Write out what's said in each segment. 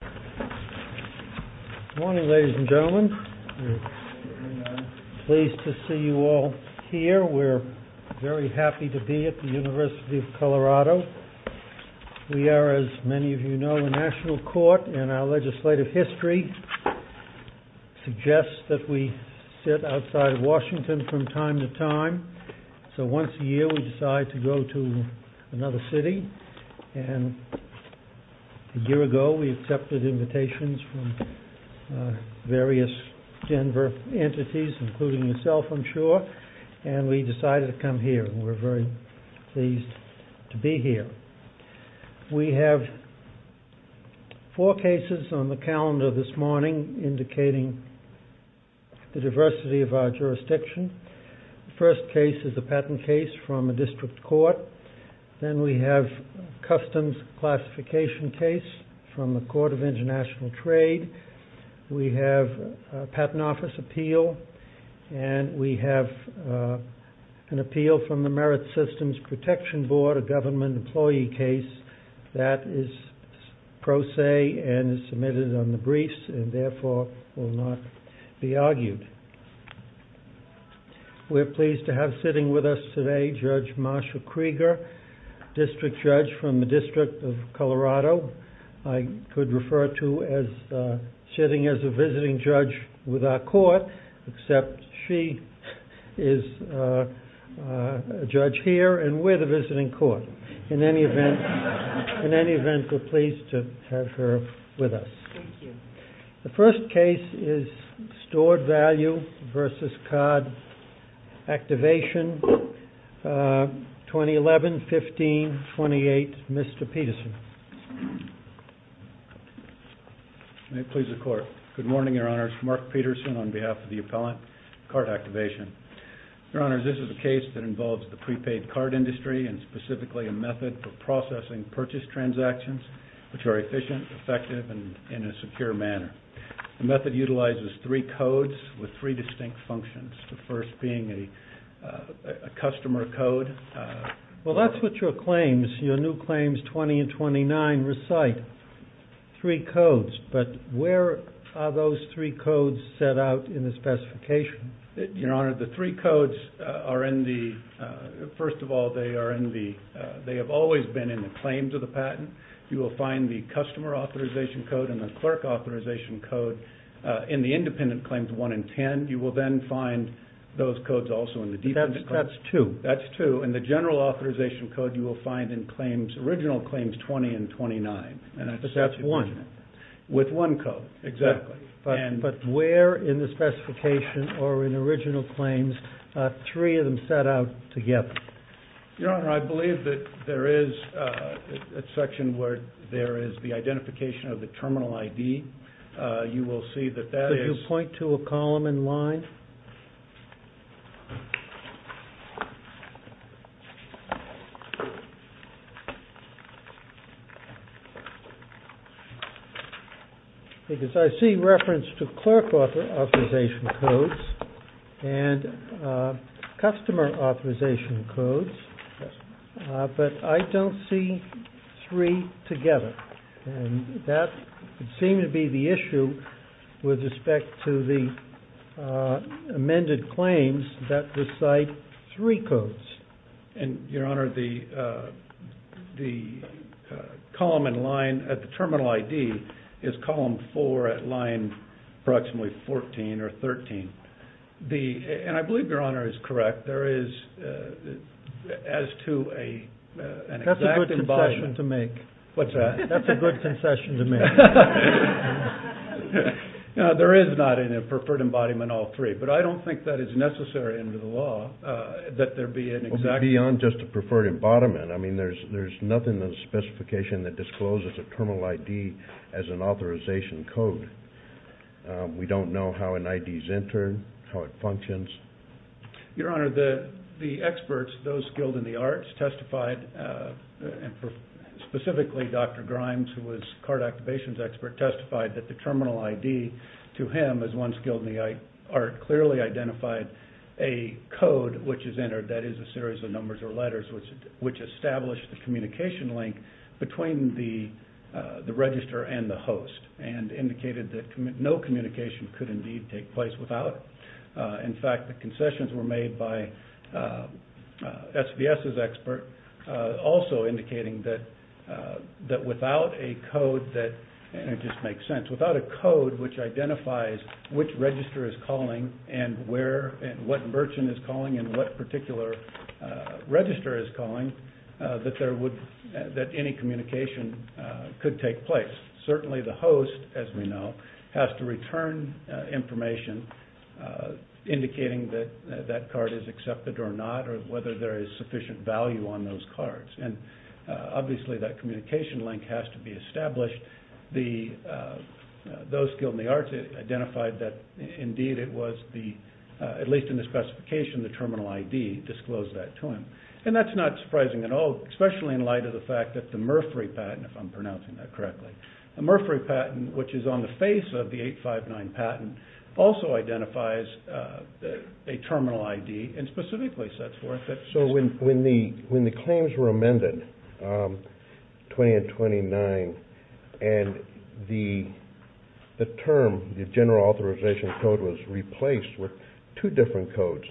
Good morning, ladies and gentlemen. We're pleased to see you all here. We're very happy to be at the University of Colorado. We are, as many of you know, a national court, and our legislative history suggests that we sit outside of Washington from time to time. So once a year we decide to go to another city, and a year ago we accepted invitations from various Denver entities, including yourself, I'm sure, and we decided to come here. We're very pleased to be here. We have four cases on the calendar this morning indicating the diversity of our jurisdiction. The first case is a patent case from a district court. Then we have a customs classification case from the Court of International Trade. We have a patent office appeal, and we have an appeal from the Merit Systems Protection Board, a government employee case that is pro se and submitted on the briefs and therefore will not be argued. We're pleased to have sitting with us today Judge Marsha Krieger, district judge from the District of Colorado. I could refer to her as sitting as a visiting judge with our court, except she is a judge here and we're the visiting court. In any event, we're pleased to have her with us. The first case is stored value versus card activation, 2011-15-28, Mr. Peterson. May it please the Court. Good morning, Your Honors. Mark Peterson on behalf of the appellant, card activation. Your Honors, this is a case that involves the prepaid card industry and specifically a method for processing purchase transactions, which are efficient, effective, and in a secure manner. The method utilizes three codes with three distinct functions, the first being a customer code. Well, that's what your claims, your new claims 20 and 29 recite, three codes, but where are those three codes set out in the specification? Your Honor, the three codes are in the, first of all, they are in the, they have always been in the claims of the patent. You will find the customer authorization code and the clerk authorization code in the independent claims 1 and 10. You will then find those codes also in the defense. That's two. That's two, and the general authorization code you will find in claims, original claims 20 and 29. But that's one. With one code, exactly. But where in the specification or in original claims are three of them set out together? Your Honor, I believe that there is a section where there is the identification of the terminal ID. You will see that that is. Could you point to a column in line? Because I see reference to clerk authorization codes and customer authorization codes, but I don't see three together. That would seem to be the issue with respect to the amended claims that recite three codes. And, Your Honor, the column in line at the terminal ID is column four at line approximately 14 or 13. The, and I believe Your Honor is correct, there is, as to a. That's a good concession to make. What's that? That's a good concession to make. There is not in a preferred embodiment all three, but I don't think that is necessary under the law that there be an exact. Beyond just a preferred embodiment, I mean, there's nothing in the specification that discloses a terminal ID as an authorization code. We don't know how an ID is entered, how it functions. Your Honor, the experts, those skilled in the arts, testified, specifically Dr. Grimes, who was a card activations expert, testified that the terminal ID to him, as one skilled in the art, clearly identified a code which is entered, that is a series of numbers or letters which establish the communication link between the register and the host, and indicated that no communication could indeed take place without it. In fact, the concessions were made by SVS's expert, also indicating that without a code that, and it just makes sense, without a code which identifies which register is calling and what merchant is calling and what particular register is calling, that there would, that any communication could take place. Certainly the host, as we know, has to return information indicating that that card is accepted or not, or whether there is sufficient value on those cards. And obviously that communication link has to be established. Those skilled in the arts identified that indeed it was the, at least in the specification, the terminal ID disclosed that to him. And that's not surprising at all, especially in light of the fact that the Murphree patent, if I'm pronouncing that correctly, the Murphree patent, which is on the face of the 859 patent, also identifies a terminal ID and specifically sets forth it. So when the claims were amended, 20 and 29, and the term, the general authorization code was replaced with two different codes,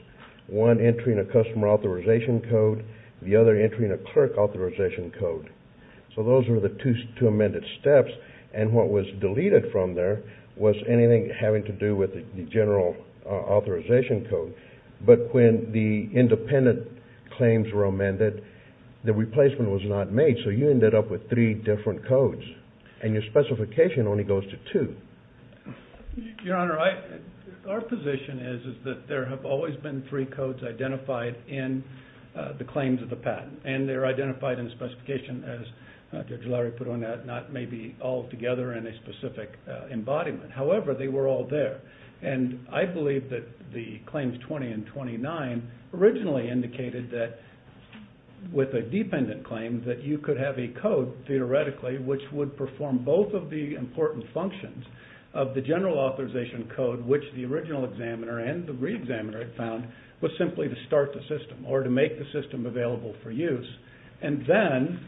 one entering a customer authorization code, the other entering a clerk authorization code. So those were the two amended steps, and what was deleted from there was anything having to do with the general authorization code. But when the independent claims were amended, the replacement was not made. So you ended up with three different codes, and your specification only goes to two. Your Honor, our position is that there have always been three codes identified in the claims of the patent, and they're identified in the specification as Judge Lowry put on that, not maybe altogether in a specific embodiment. However, they were all there, and I believe that the claims 20 and 29 originally indicated that with a dependent claim, that you could have a code, theoretically, which would perform both of the important functions of the general authorization code, which the original examiner and the re-examiner had found, was simply to start the system or to make the system available for use. And then,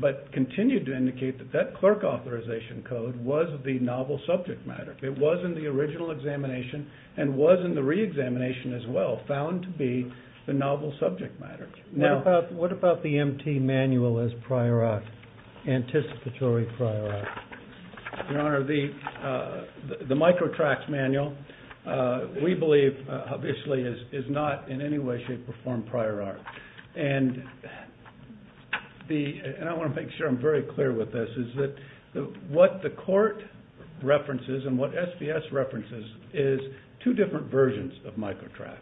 but continued to indicate that that clerk authorization code was the novel subject matter. It was in the original examination and was in the re-examination as well, found to be the novel subject matter. What about the MT manual as prior art, anticipatory prior art? Your Honor, the microtracks manual, we believe, obviously, is not in any way, shape, or form prior art. And I want to make sure I'm very clear with this, is that what the court references and what SBS references is two different versions of microtracks.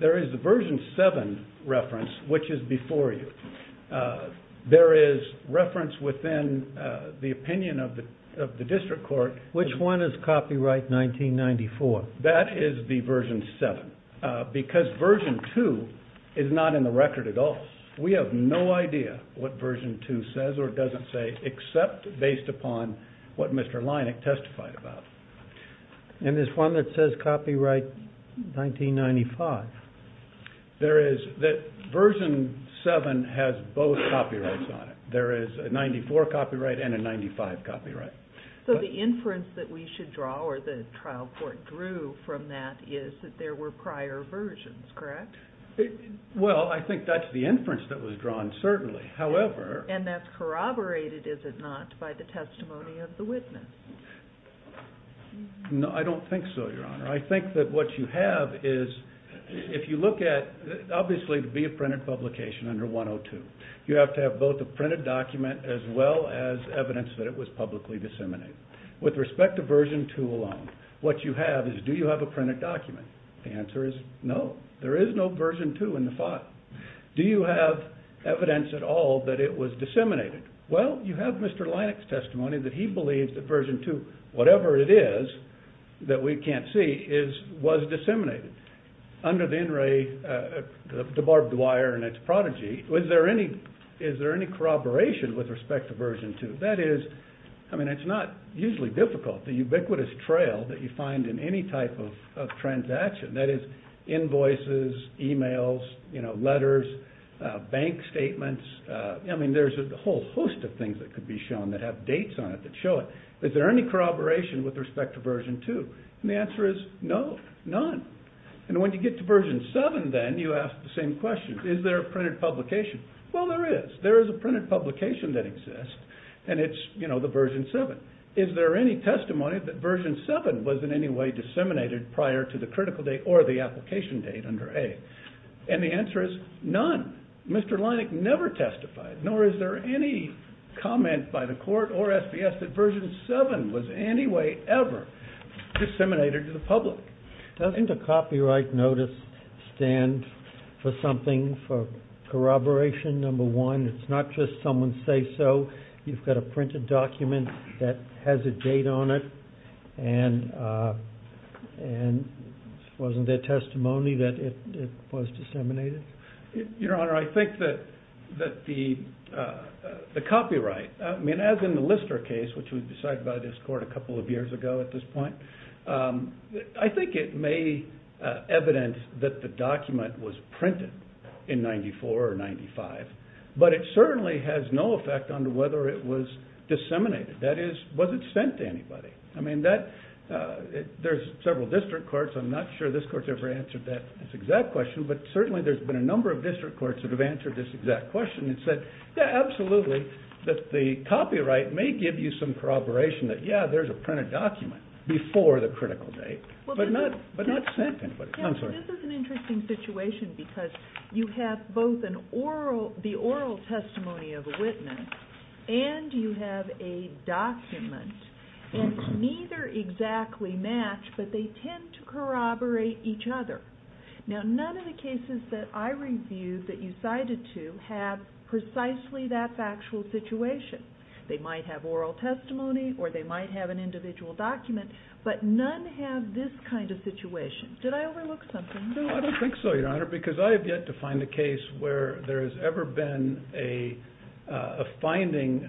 There is the version 7 reference, which is before you. There is reference within the opinion of the district court. Which one is copyright 1994? That is the version 7, because version 2 is not in the record at all. We have no idea what version 2 says or doesn't say, except based upon what Mr. Leineck testified about. And there's one that says copyright 1995. There is, that version 7 has both copyrights on it. There is a 94 copyright and a 95 copyright. So the inference that we should draw, or the trial court drew from that, is that there were prior versions, correct? Well, I think that's the inference that was drawn, certainly. And that's corroborated, is it not, by the testimony of the witness? No, I don't think so, Your Honor. I think that what you have is, if you look at, obviously, to be a printed publication under 102, you have to have both a printed document as well as evidence that it was publicly disseminated. With respect to version 2 alone, what you have is, do you have a printed document? The answer is no. There is no version 2 in the file. Do you have evidence at all that it was disseminated? Well, you have Mr. Leineck's testimony that he believes that version 2, whatever it is that we can't see, was disseminated. Under the in-ray, the barbed wire and its prodigy, is there any corroboration with respect to version 2? That is, I mean, it's not usually difficult. The ubiquitous trail that you find in any type of transaction, that is, invoices, emails, letters, bank statements, I mean, there's a whole host of things that could be shown that have dates on it that show it. Is there any corroboration with respect to version 2? And the answer is no, none. And when you get to version 7, then, you ask the same question. Is there a printed publication? Well, there is. There is a printed publication that exists, and it's the version 7. Is there any testimony that version 7 was in any way disseminated prior to the critical date or the application date under A? And the answer is none. Mr. Leineck never testified, nor is there any comment by the Court or SBS that version 7 was in any way ever disseminated to the public. Doesn't a copyright notice stand for something, for corroboration, number one? It's not just someone's say-so. You've got a printed document that has a date on it, and wasn't there testimony that it was disseminated? Your Honor, I think that the copyright, I mean, as in the Lister case, which was decided by this Court a couple of years ago at this point, I think it may evidence that the document was printed in 94 or 95, but it certainly has no effect on whether it was disseminated. That is, was it sent to anybody? I mean, there's several district courts. I'm not sure this Court's ever answered that exact question, but certainly there's been a number of district courts that have answered this exact question and said, yeah, absolutely, that the copyright may give you some corroboration that, yeah, there's a printed document before the critical date, but not sent to anybody. This is an interesting situation because you have both the oral testimony of a witness and you have a document, and neither exactly match, but they tend to corroborate each other. Now, none of the cases that I reviewed that you cited to have precisely that factual situation. They might have oral testimony or they might have an individual document, but none have this kind of situation. Did I overlook something? No, I don't think so, Your Honor, because I have yet to find a case where there has ever been a finding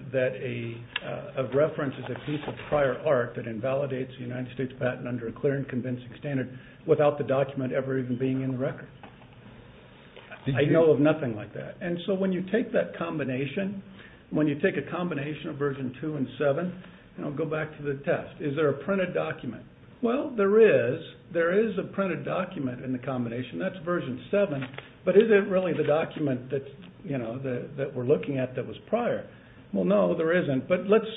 of reference as a piece of prior art that invalidates the United States patent under a clear and convincing standard without the document ever even being in the record. I know of nothing like that. And so when you take that combination, when you take a combination of version 2 and 7, go back to the test. Is there a printed document? Well, there is. There is a printed document in the combination. That's version 7, but is it really the document that we're looking at that was prior? Well, no, there isn't, but let's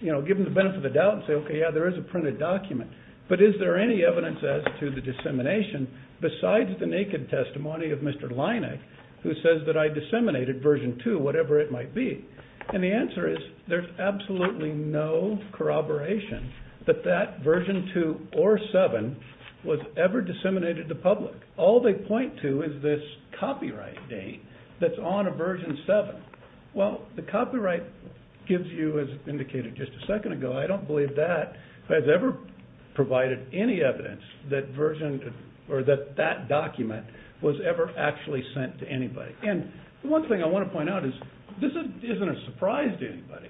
give them the benefit of the doubt and say, okay, yeah, there is a printed document, but is there any evidence as to the dissemination besides the naked testimony of Mr. Leineck, who says that I disseminated version 2, whatever it might be? And the answer is there's absolutely no corroboration that that version 2 or 7 was ever disseminated to public. All they point to is this copyright date that's on a version 7. Well, the copyright gives you, as indicated just a second ago, I don't believe that has ever provided any evidence that that document was ever actually sent to anybody. And one thing I want to point out is this isn't a surprise to anybody.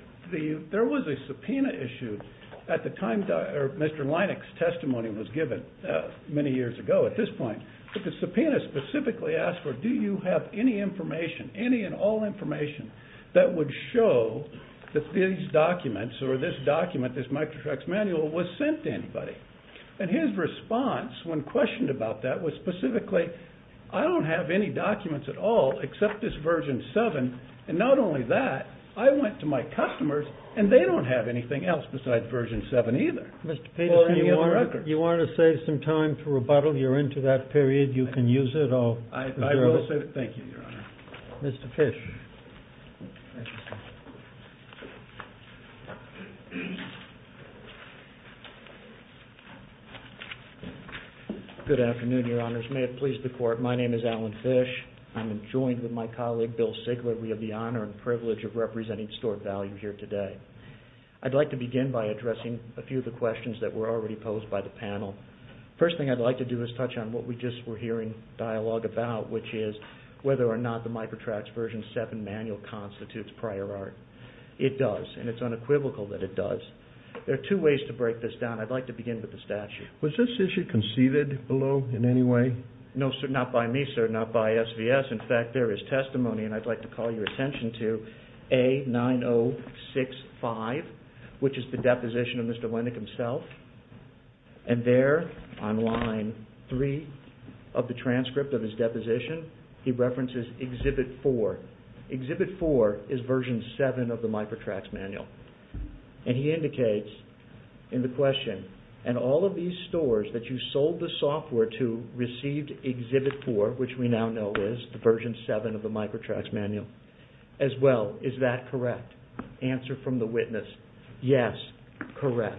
There was a subpoena issue at the time Mr. Leineck's testimony was given many years ago at this point, but the subpoena specifically asked for, do you have any information, any and all information, that would show that these documents or this document, this microtracks manual, was sent to anybody? And his response when questioned about that was specifically, I don't have any documents at all except this version 7, and not only that, I went to my customers and they don't have anything else besides version 7 either. Mr. Peters, do you have a record? Well, if you want to save some time to rebuttal, you're into that period. You can use it. I will save it. Thank you, Your Honor. Mr. Fish. Good afternoon, Your Honors. May it please the Court. My name is Alan Fish. I'm joined with my colleague Bill Sigler. We have the honor and privilege of representing stored value here today. I'd like to begin by addressing a few of the questions that were already posed by the panel. First thing I'd like to do is touch on what we just were hearing dialogue about, which is whether or not the microtracks version 7 manual constitutes prior art. It does, and it's unequivocal that it does. There are two ways to break this down. I'd like to begin with the statute. Was this issue conceived below in any way? No, sir. Not by me, sir. Not by SVS. In fact, there is testimony, and I'd like to call your attention to A9065, which is the deposition of Mr. Wendick himself. There, on line 3 of the transcript of his deposition, he references Exhibit 4. Exhibit 4 is version 7 of the microtracks manual. He indicates in the question, and all of these stores that you sold the software to received Exhibit 4, which we now know is version 7 of the microtracks manual. As well, is that correct? Answer from the witness, yes, correct.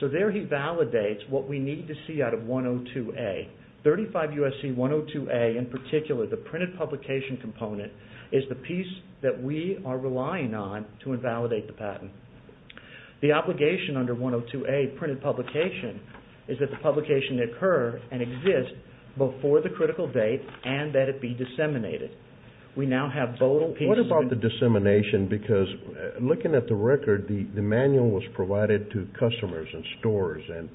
There he validates what we need to see out of 102A. 35 U.S.C. 102A, in particular, the printed publication component, the obligation under 102A, printed publication, is that the publication occur and exist before the critical date and that it be disseminated. What about the dissemination? Because looking at the record, the manual was provided to customers and stores and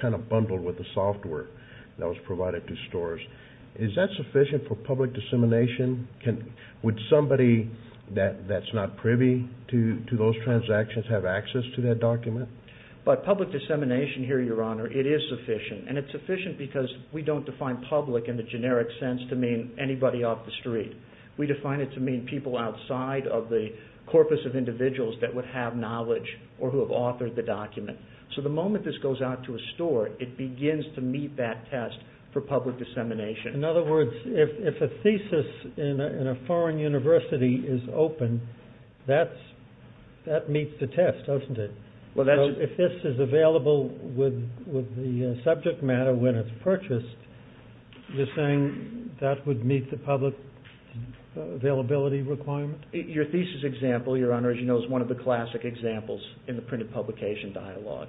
kind of bundled with the software that was provided to stores. Is that sufficient for public dissemination? Would somebody that's not privy to those transactions have access to that document? By public dissemination here, Your Honor, it is sufficient, and it's sufficient because we don't define public in the generic sense to mean anybody off the street. We define it to mean people outside of the corpus of individuals that would have knowledge or who have authored the document. So the moment this goes out to a store, it begins to meet that test for public dissemination. In other words, if a thesis in a foreign university is open, that meets the test, doesn't it? So if this is available with the subject matter when it's purchased, you're saying that would meet the public availability requirement? Your thesis example, Your Honor, as you know, is one of the classic examples in the printed publication dialogue.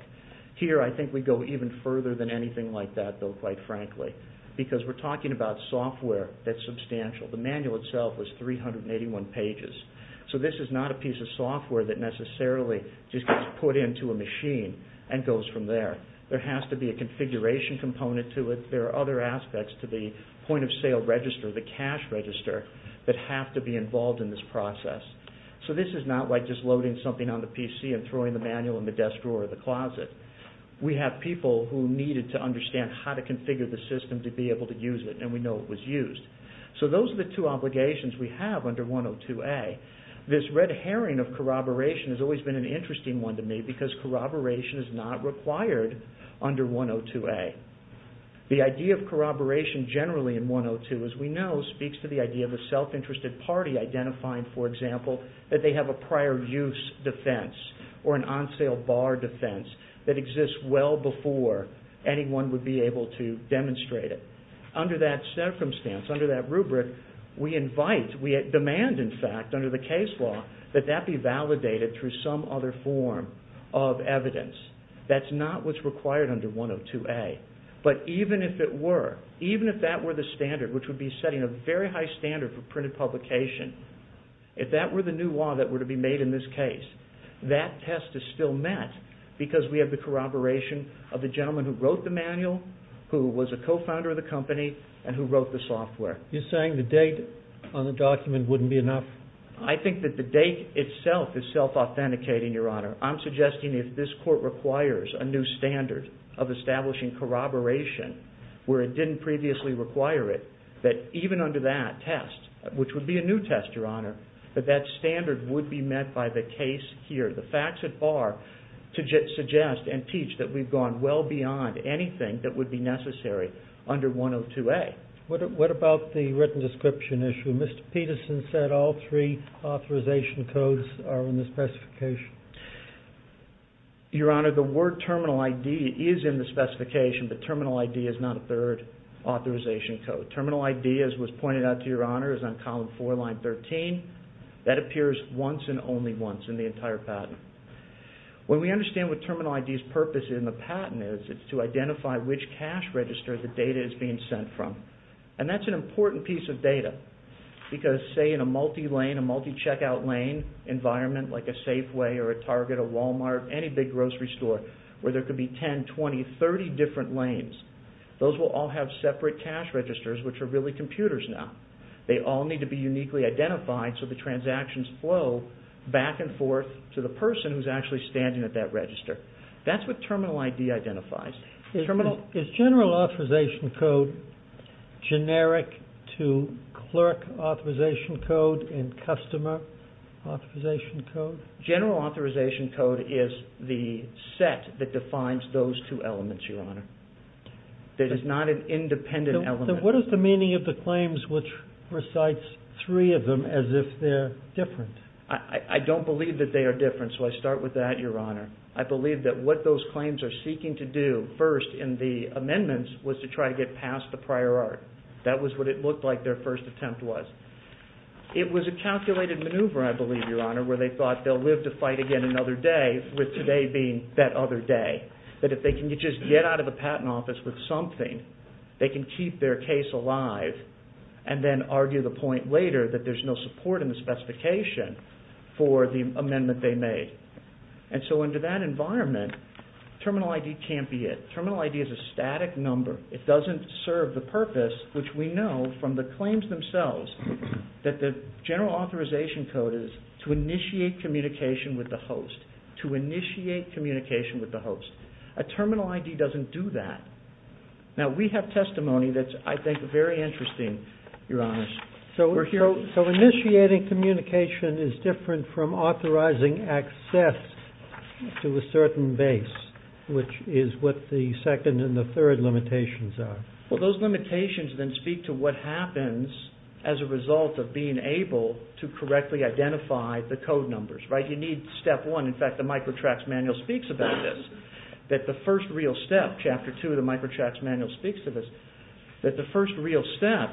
Here, I think we go even further than anything like that, though, quite frankly, because we're talking about software that's substantial. The manual itself was 381 pages. So this is not a piece of software that necessarily just gets put into a machine and goes from there. There has to be a configuration component to it. There are other aspects to the point-of-sale register, the cash register, that have to be involved in this process. So this is not like just loading something on the PC and throwing the manual in the desk drawer or the closet. We have people who needed to understand how to configure the system to be able to use it, and we know it was used. So those are the two obligations we have under 102A. This red herring of corroboration has always been an interesting one to me because corroboration is not required under 102A. The idea of corroboration generally in 102, as we know, speaks to the idea of a self-interested party identifying, for example, that they have a prior use defense or an on-sale bar defense that exists well before anyone would be able to demonstrate it. Under that circumstance, under that rubric, we invite, we demand, in fact, under the case law that that be validated through some other form of evidence. That's not what's required under 102A. But even if it were, even if that were the standard, which would be setting a very high standard for printed publication, if that were the new law that were to be made in this case, that test is still met because we have the corroboration of the gentleman who wrote the manual, who was a co-founder of the company, and who wrote the software. You're saying the date on the document wouldn't be enough? I think that the date itself is self-authenticating, Your Honor. I'm suggesting if this court requires a new standard of establishing corroboration where it didn't previously require it, that even under that test, which would be a new test, Your Honor, that that standard would be met by the case here. The facts at bar suggest and teach that we've gone well beyond anything that would be necessary under 102A. What about the written description issue? Mr. Peterson said all three authorization codes are in the specification. Your Honor, the word terminal ID is in the specification, but terminal ID is not a third authorization code. Terminal ID, as was pointed out to Your Honor, is on column 4, line 13. That appears once and only once in the entire patent. When we understand what terminal ID's purpose in the patent is, it's to identify which cash register the data is being sent from. That's an important piece of data because, say, in a multi-lane, a multi-checkout lane environment like a Safeway or a Target, a Walmart, any big grocery store where there could be 10, 20, 30 different lanes, those will all have separate cash registers, which are really computers now. They all need to be uniquely identified so the transactions flow back and forth to the person who's actually standing at that register. That's what terminal ID identifies. Is general authorization code generic to clerk authorization code and customer authorization code? General authorization code is the set that defines those two elements, Your Honor. It is not an independent element. What is the meaning of the claims which recites three of them as if they're different? I don't believe that they are different, so I start with that, Your Honor. I believe that what those claims are seeking to do first in the amendments was to try to get past the prior art. That was what it looked like their first attempt was. It was a calculated maneuver, I believe, Your Honor, where they thought they'll live to fight again another day, with today being that other day. That if they can just get out of the patent office with something, they can keep their case alive and then argue the point later that there's no support in the specification for the amendment they made. And so under that environment, terminal ID can't be it. Terminal ID is a static number. It doesn't serve the purpose, which we know from the claims themselves that the general authorization code is to initiate communication with the host. A terminal ID doesn't do that. Now, we have testimony that's, I think, very interesting, Your Honor. So initiating communication is different from authorizing access to a certain base, which is what the second and the third limitations are. Well, those limitations then speak to what happens as a result of being able to correctly identify the code numbers, right? Now, you need step one. In fact, the Microtracks Manual speaks about this, that the first real step, Chapter 2 of the Microtracks Manual speaks of this, that the first real step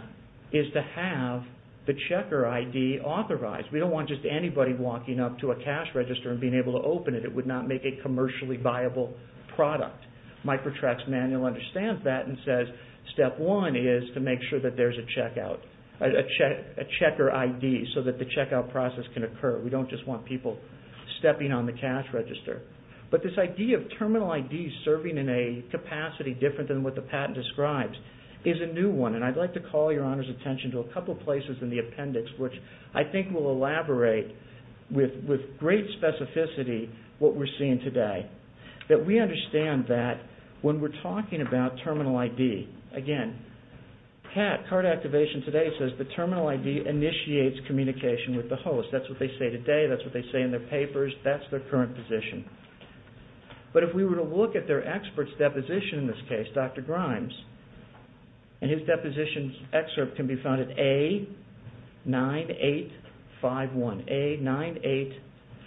is to have the checker ID authorized. We don't want just anybody walking up to a cash register and being able to open it. It would not make a commercially viable product. Microtracks Manual understands that and says step one is to make sure that there's a checker ID so that the checkout process can occur. We don't just want people stepping on the cash register. But this idea of terminal IDs serving in a capacity different than what the patent describes is a new one, and I'd like to call Your Honor's attention to a couple places in the appendix, which I think will elaborate with great specificity what we're seeing today, that we understand that when we're talking about terminal ID, again, CART activation today says the terminal ID initiates communication with the host. That's what they say today. That's what they say in their papers. That's their current position. But if we were to look at their expert's deposition in this case, Dr. Grimes, and his deposition's excerpt can be found at A9851,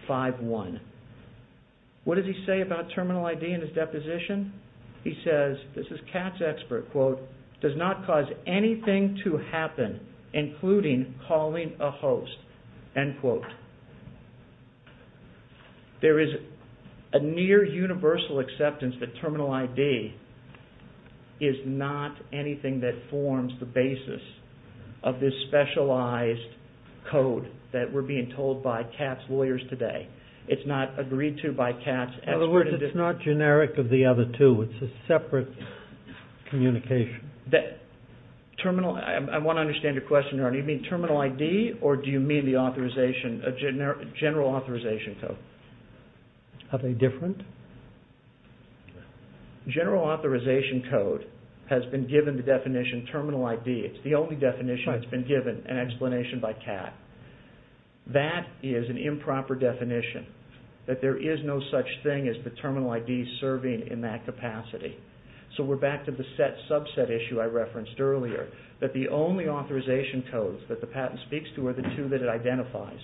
A9851. What does he say about terminal ID in his deposition? He says, this is Kat's expert, quote, does not cause anything to happen, including calling a host, end quote. There is a near universal acceptance that terminal ID is not anything that forms the basis of this specialized code that we're being told by Kat's lawyers today. It's not agreed to by Kat's expert. In other words, it's not generic of the other two. It's a separate communication. Terminal, I want to understand your question. Do you mean terminal ID or do you mean the authorization, general authorization code? Are they different? General authorization code has been given the definition terminal ID. It's the only definition that's been given, an explanation by Kat. That is an improper definition, that there is no such thing as the terminal ID serving in that capacity. We're back to the set subset issue I referenced earlier, that the only authorization codes that the patent speaks to are the two that it identifies.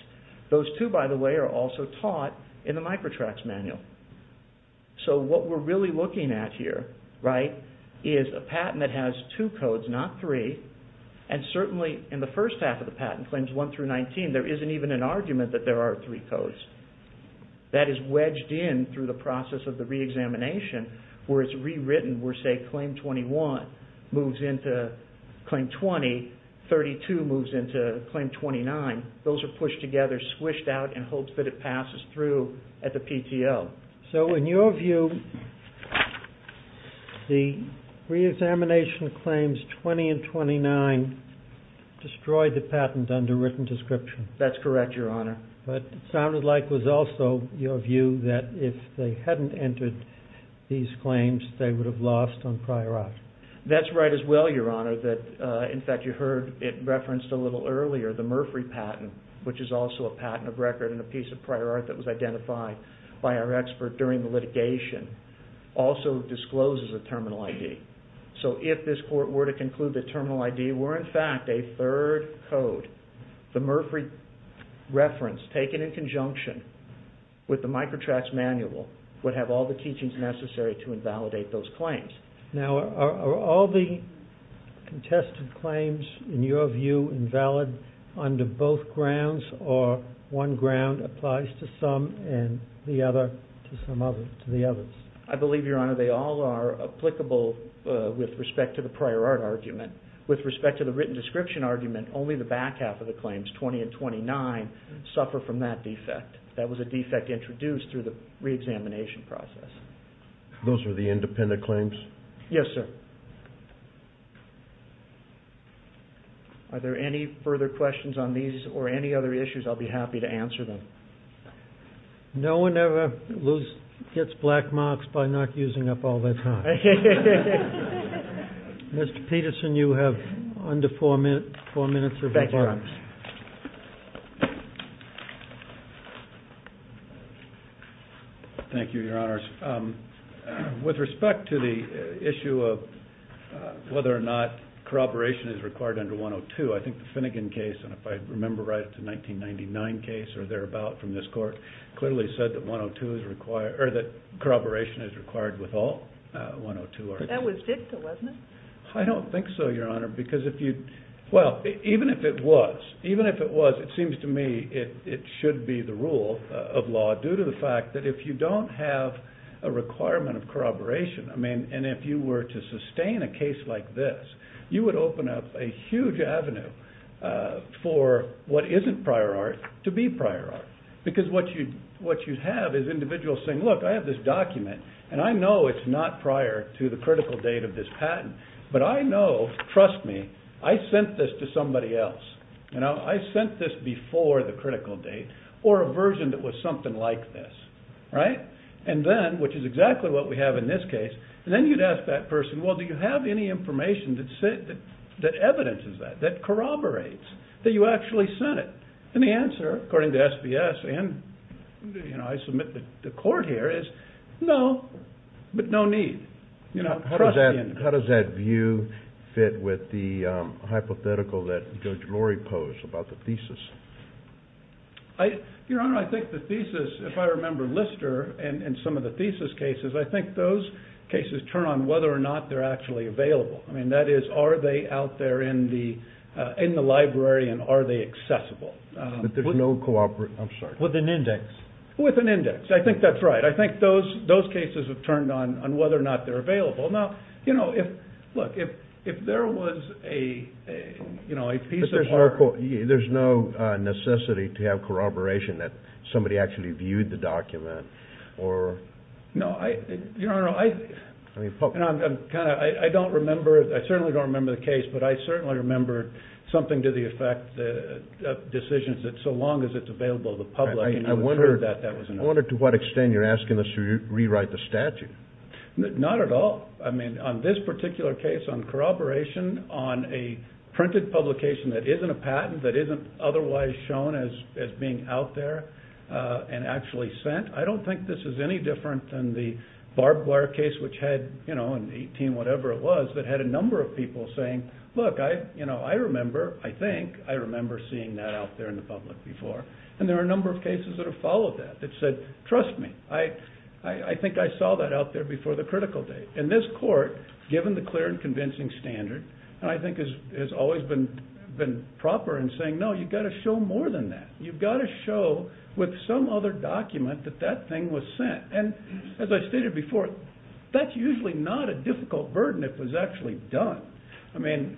Those two, by the way, are also taught in the microtracks manual. What we're really looking at here is a patent that has two codes, not three. Certainly, in the first half of the patent, claims one through 19, there isn't even an argument that there are three codes. That is wedged in through the process of the reexamination where it's rewritten, where say claim 21 moves into claim 20, 32 moves into claim 29. Those are pushed together, squished out in hopes that it passes through at the PTO. In your view, the reexamination claims 20 and 29 destroyed the patent under written description? That's correct, Your Honor. It sounded like it was also your view that if they hadn't entered these claims, they would have lost on prior art. That's right as well, Your Honor. In fact, you heard it referenced a little earlier, the Murphy patent, which is also a patent of record and a piece of prior art that was identified by our expert during the litigation, also discloses a terminal ID. If this court were to conclude that terminal ID were in fact a third code, the Murphy reference taken in conjunction with the microtracks manual would have all the teachings necessary to invalidate those claims. Now are all the contested claims in your view invalid under both grounds or one ground applies to some and the other to the others? I believe, Your Honor, they all are applicable with respect to the prior art argument. With respect to the written description argument, only the back half of the claims, 20 and 29, suffer from that defect. That was a defect introduced through the reexamination process. Those were the independent claims? Yes, sir. Are there any further questions on these or any other issues? I'll be happy to answer them. No one ever gets black marks by not using up all their time. Mr. Peterson, you have under four minutes of rebuttal. Thank you, Your Honor. With respect to the issue of whether or not corroboration is required under 102, I think the Finnegan case, and if I remember right it's a 1999 case or thereabout from this court, clearly said that corroboration is required with all 102 articles. That was dicta, wasn't it? I don't think so, Your Honor. Even if it was, it seems to me it should be the rule of law due to the fact that if you don't have a requirement of corroboration, and if you were to sustain a case like this, you would open up a huge avenue for what isn't prior art to be prior art. Because what you have is individuals saying, look, I have this document and I know it's not prior to the critical date of this patent, but I know, trust me, I sent this to somebody else. I sent this before the critical date or a version that was something like this. Right? And then, which is exactly what we have in this case, then you'd ask that person, well, do you have any information that evidences that, that corroborates that you actually sent it? And the answer, according to SBS and I submit to the court here, is no, but no need. How does that view fit with the hypothetical that Judge Lori posed about the thesis? Your Honor, I think the thesis, if I remember Lister and some of the thesis cases, I think those cases turn on whether or not they're actually available. I mean, that is, are they out there in the library and are they accessible? But there's no corroboration, I'm sorry. With an index. With an index, I think that's right. I think those cases have turned on whether or not they're available. Now, you know, look, if there was a piece of art. But there's no necessity to have corroboration that somebody actually viewed the document or... No, Your Honor, I don't remember, I certainly don't remember the case, but I certainly remember something to the effect of decisions that so long as it's available to the public. I wonder to what extent you're asking. to rewrite the statute. Not at all. I mean, on this particular case, on corroboration, on a printed publication that isn't a patent, that isn't otherwise shown as being out there and actually sent, I don't think this is any different than the barbed wire case which had, you know, in 18 whatever it was, that had a number of people saying, look, I remember, I think, I remember seeing that out there in the public before. And there are a number of cases that have followed that, that said, trust me, I think I saw that out there before the critical date. And this court, given the clear and convincing standard, and I think has always been proper in saying, no, you've got to show more than that. You've got to show with some other document that that thing was sent. And as I stated before, that's usually not a difficult burden if it was actually done. I mean,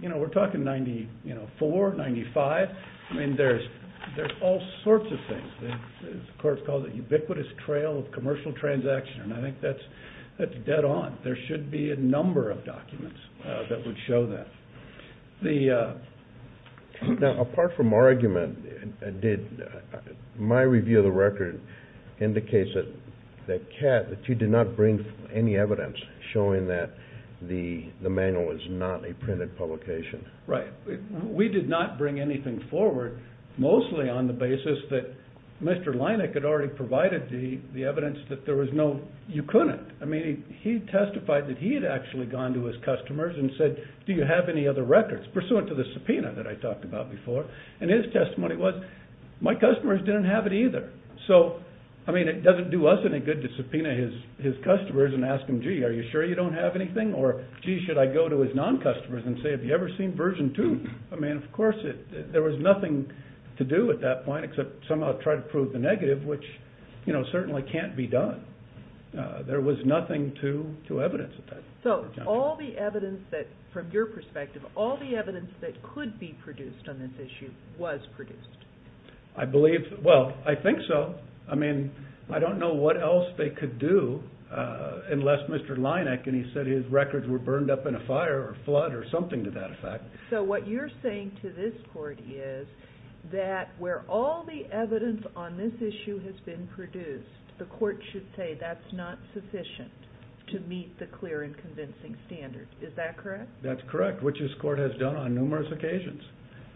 you know, we're talking 94, 95, I mean, there's all sorts of things. The court has called it a ubiquitous trail of commercial transaction, and I think that's dead on. There should be a number of documents that would show that. Now, apart from our argument, did my review of the record indicate that, that you did not bring any evidence showing that the manual is not a printed publication? Right. We did not bring anything forward, mostly on the basis that Mr. Leineck had already provided the evidence that there was no, you couldn't, I mean, he testified that he had actually gone to his customers and said, do you have any other records? Pursuant to the subpoena that I talked about before, and his testimony was, my customers didn't have it either. So, I mean, it doesn't do us any good to subpoena his customers and ask them, gee, are you sure you don't have anything? Or, gee, should I go to his non-customers and say, have you ever seen version two? I mean, of course, there was nothing to do at that point, except somehow try to prove the negative, which, you know, certainly can't be done. There was nothing to evidence at that point. So all the evidence that, from your perspective, all the evidence that could be produced on this issue was produced? I believe, well, I think so. I mean, I don't know what else they could do unless Mr. Leineck, and he said his records were burned up in a fire or flood or something to that effect. So what you're saying to this court is that where all the evidence on this issue has been produced, the court should say that's not sufficient to meet the clear and convincing standard. Is that correct? That's correct, which this court has done on numerous occasions.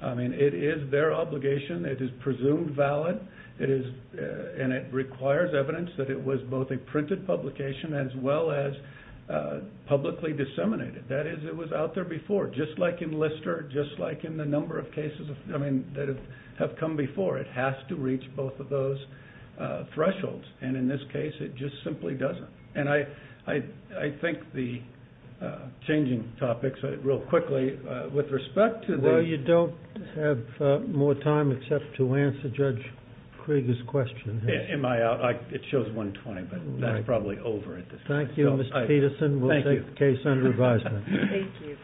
I mean, it is their obligation. It is presumed valid, and it requires evidence that it was both a printed publication as well as publicly disseminated. That is, it was out there before, just like in Lister, just like in the number of cases, I mean, that have come before. It has to reach both of those thresholds, and in this case, it just simply doesn't. And I think the changing topics, real quickly, with respect to the— Well, you don't have more time except to answer Judge Krieger's question. Am I out? It shows 1.20, but that's probably over at this point. Thank you, Mr. Peterson. We'll take the case under advisement. Thank you.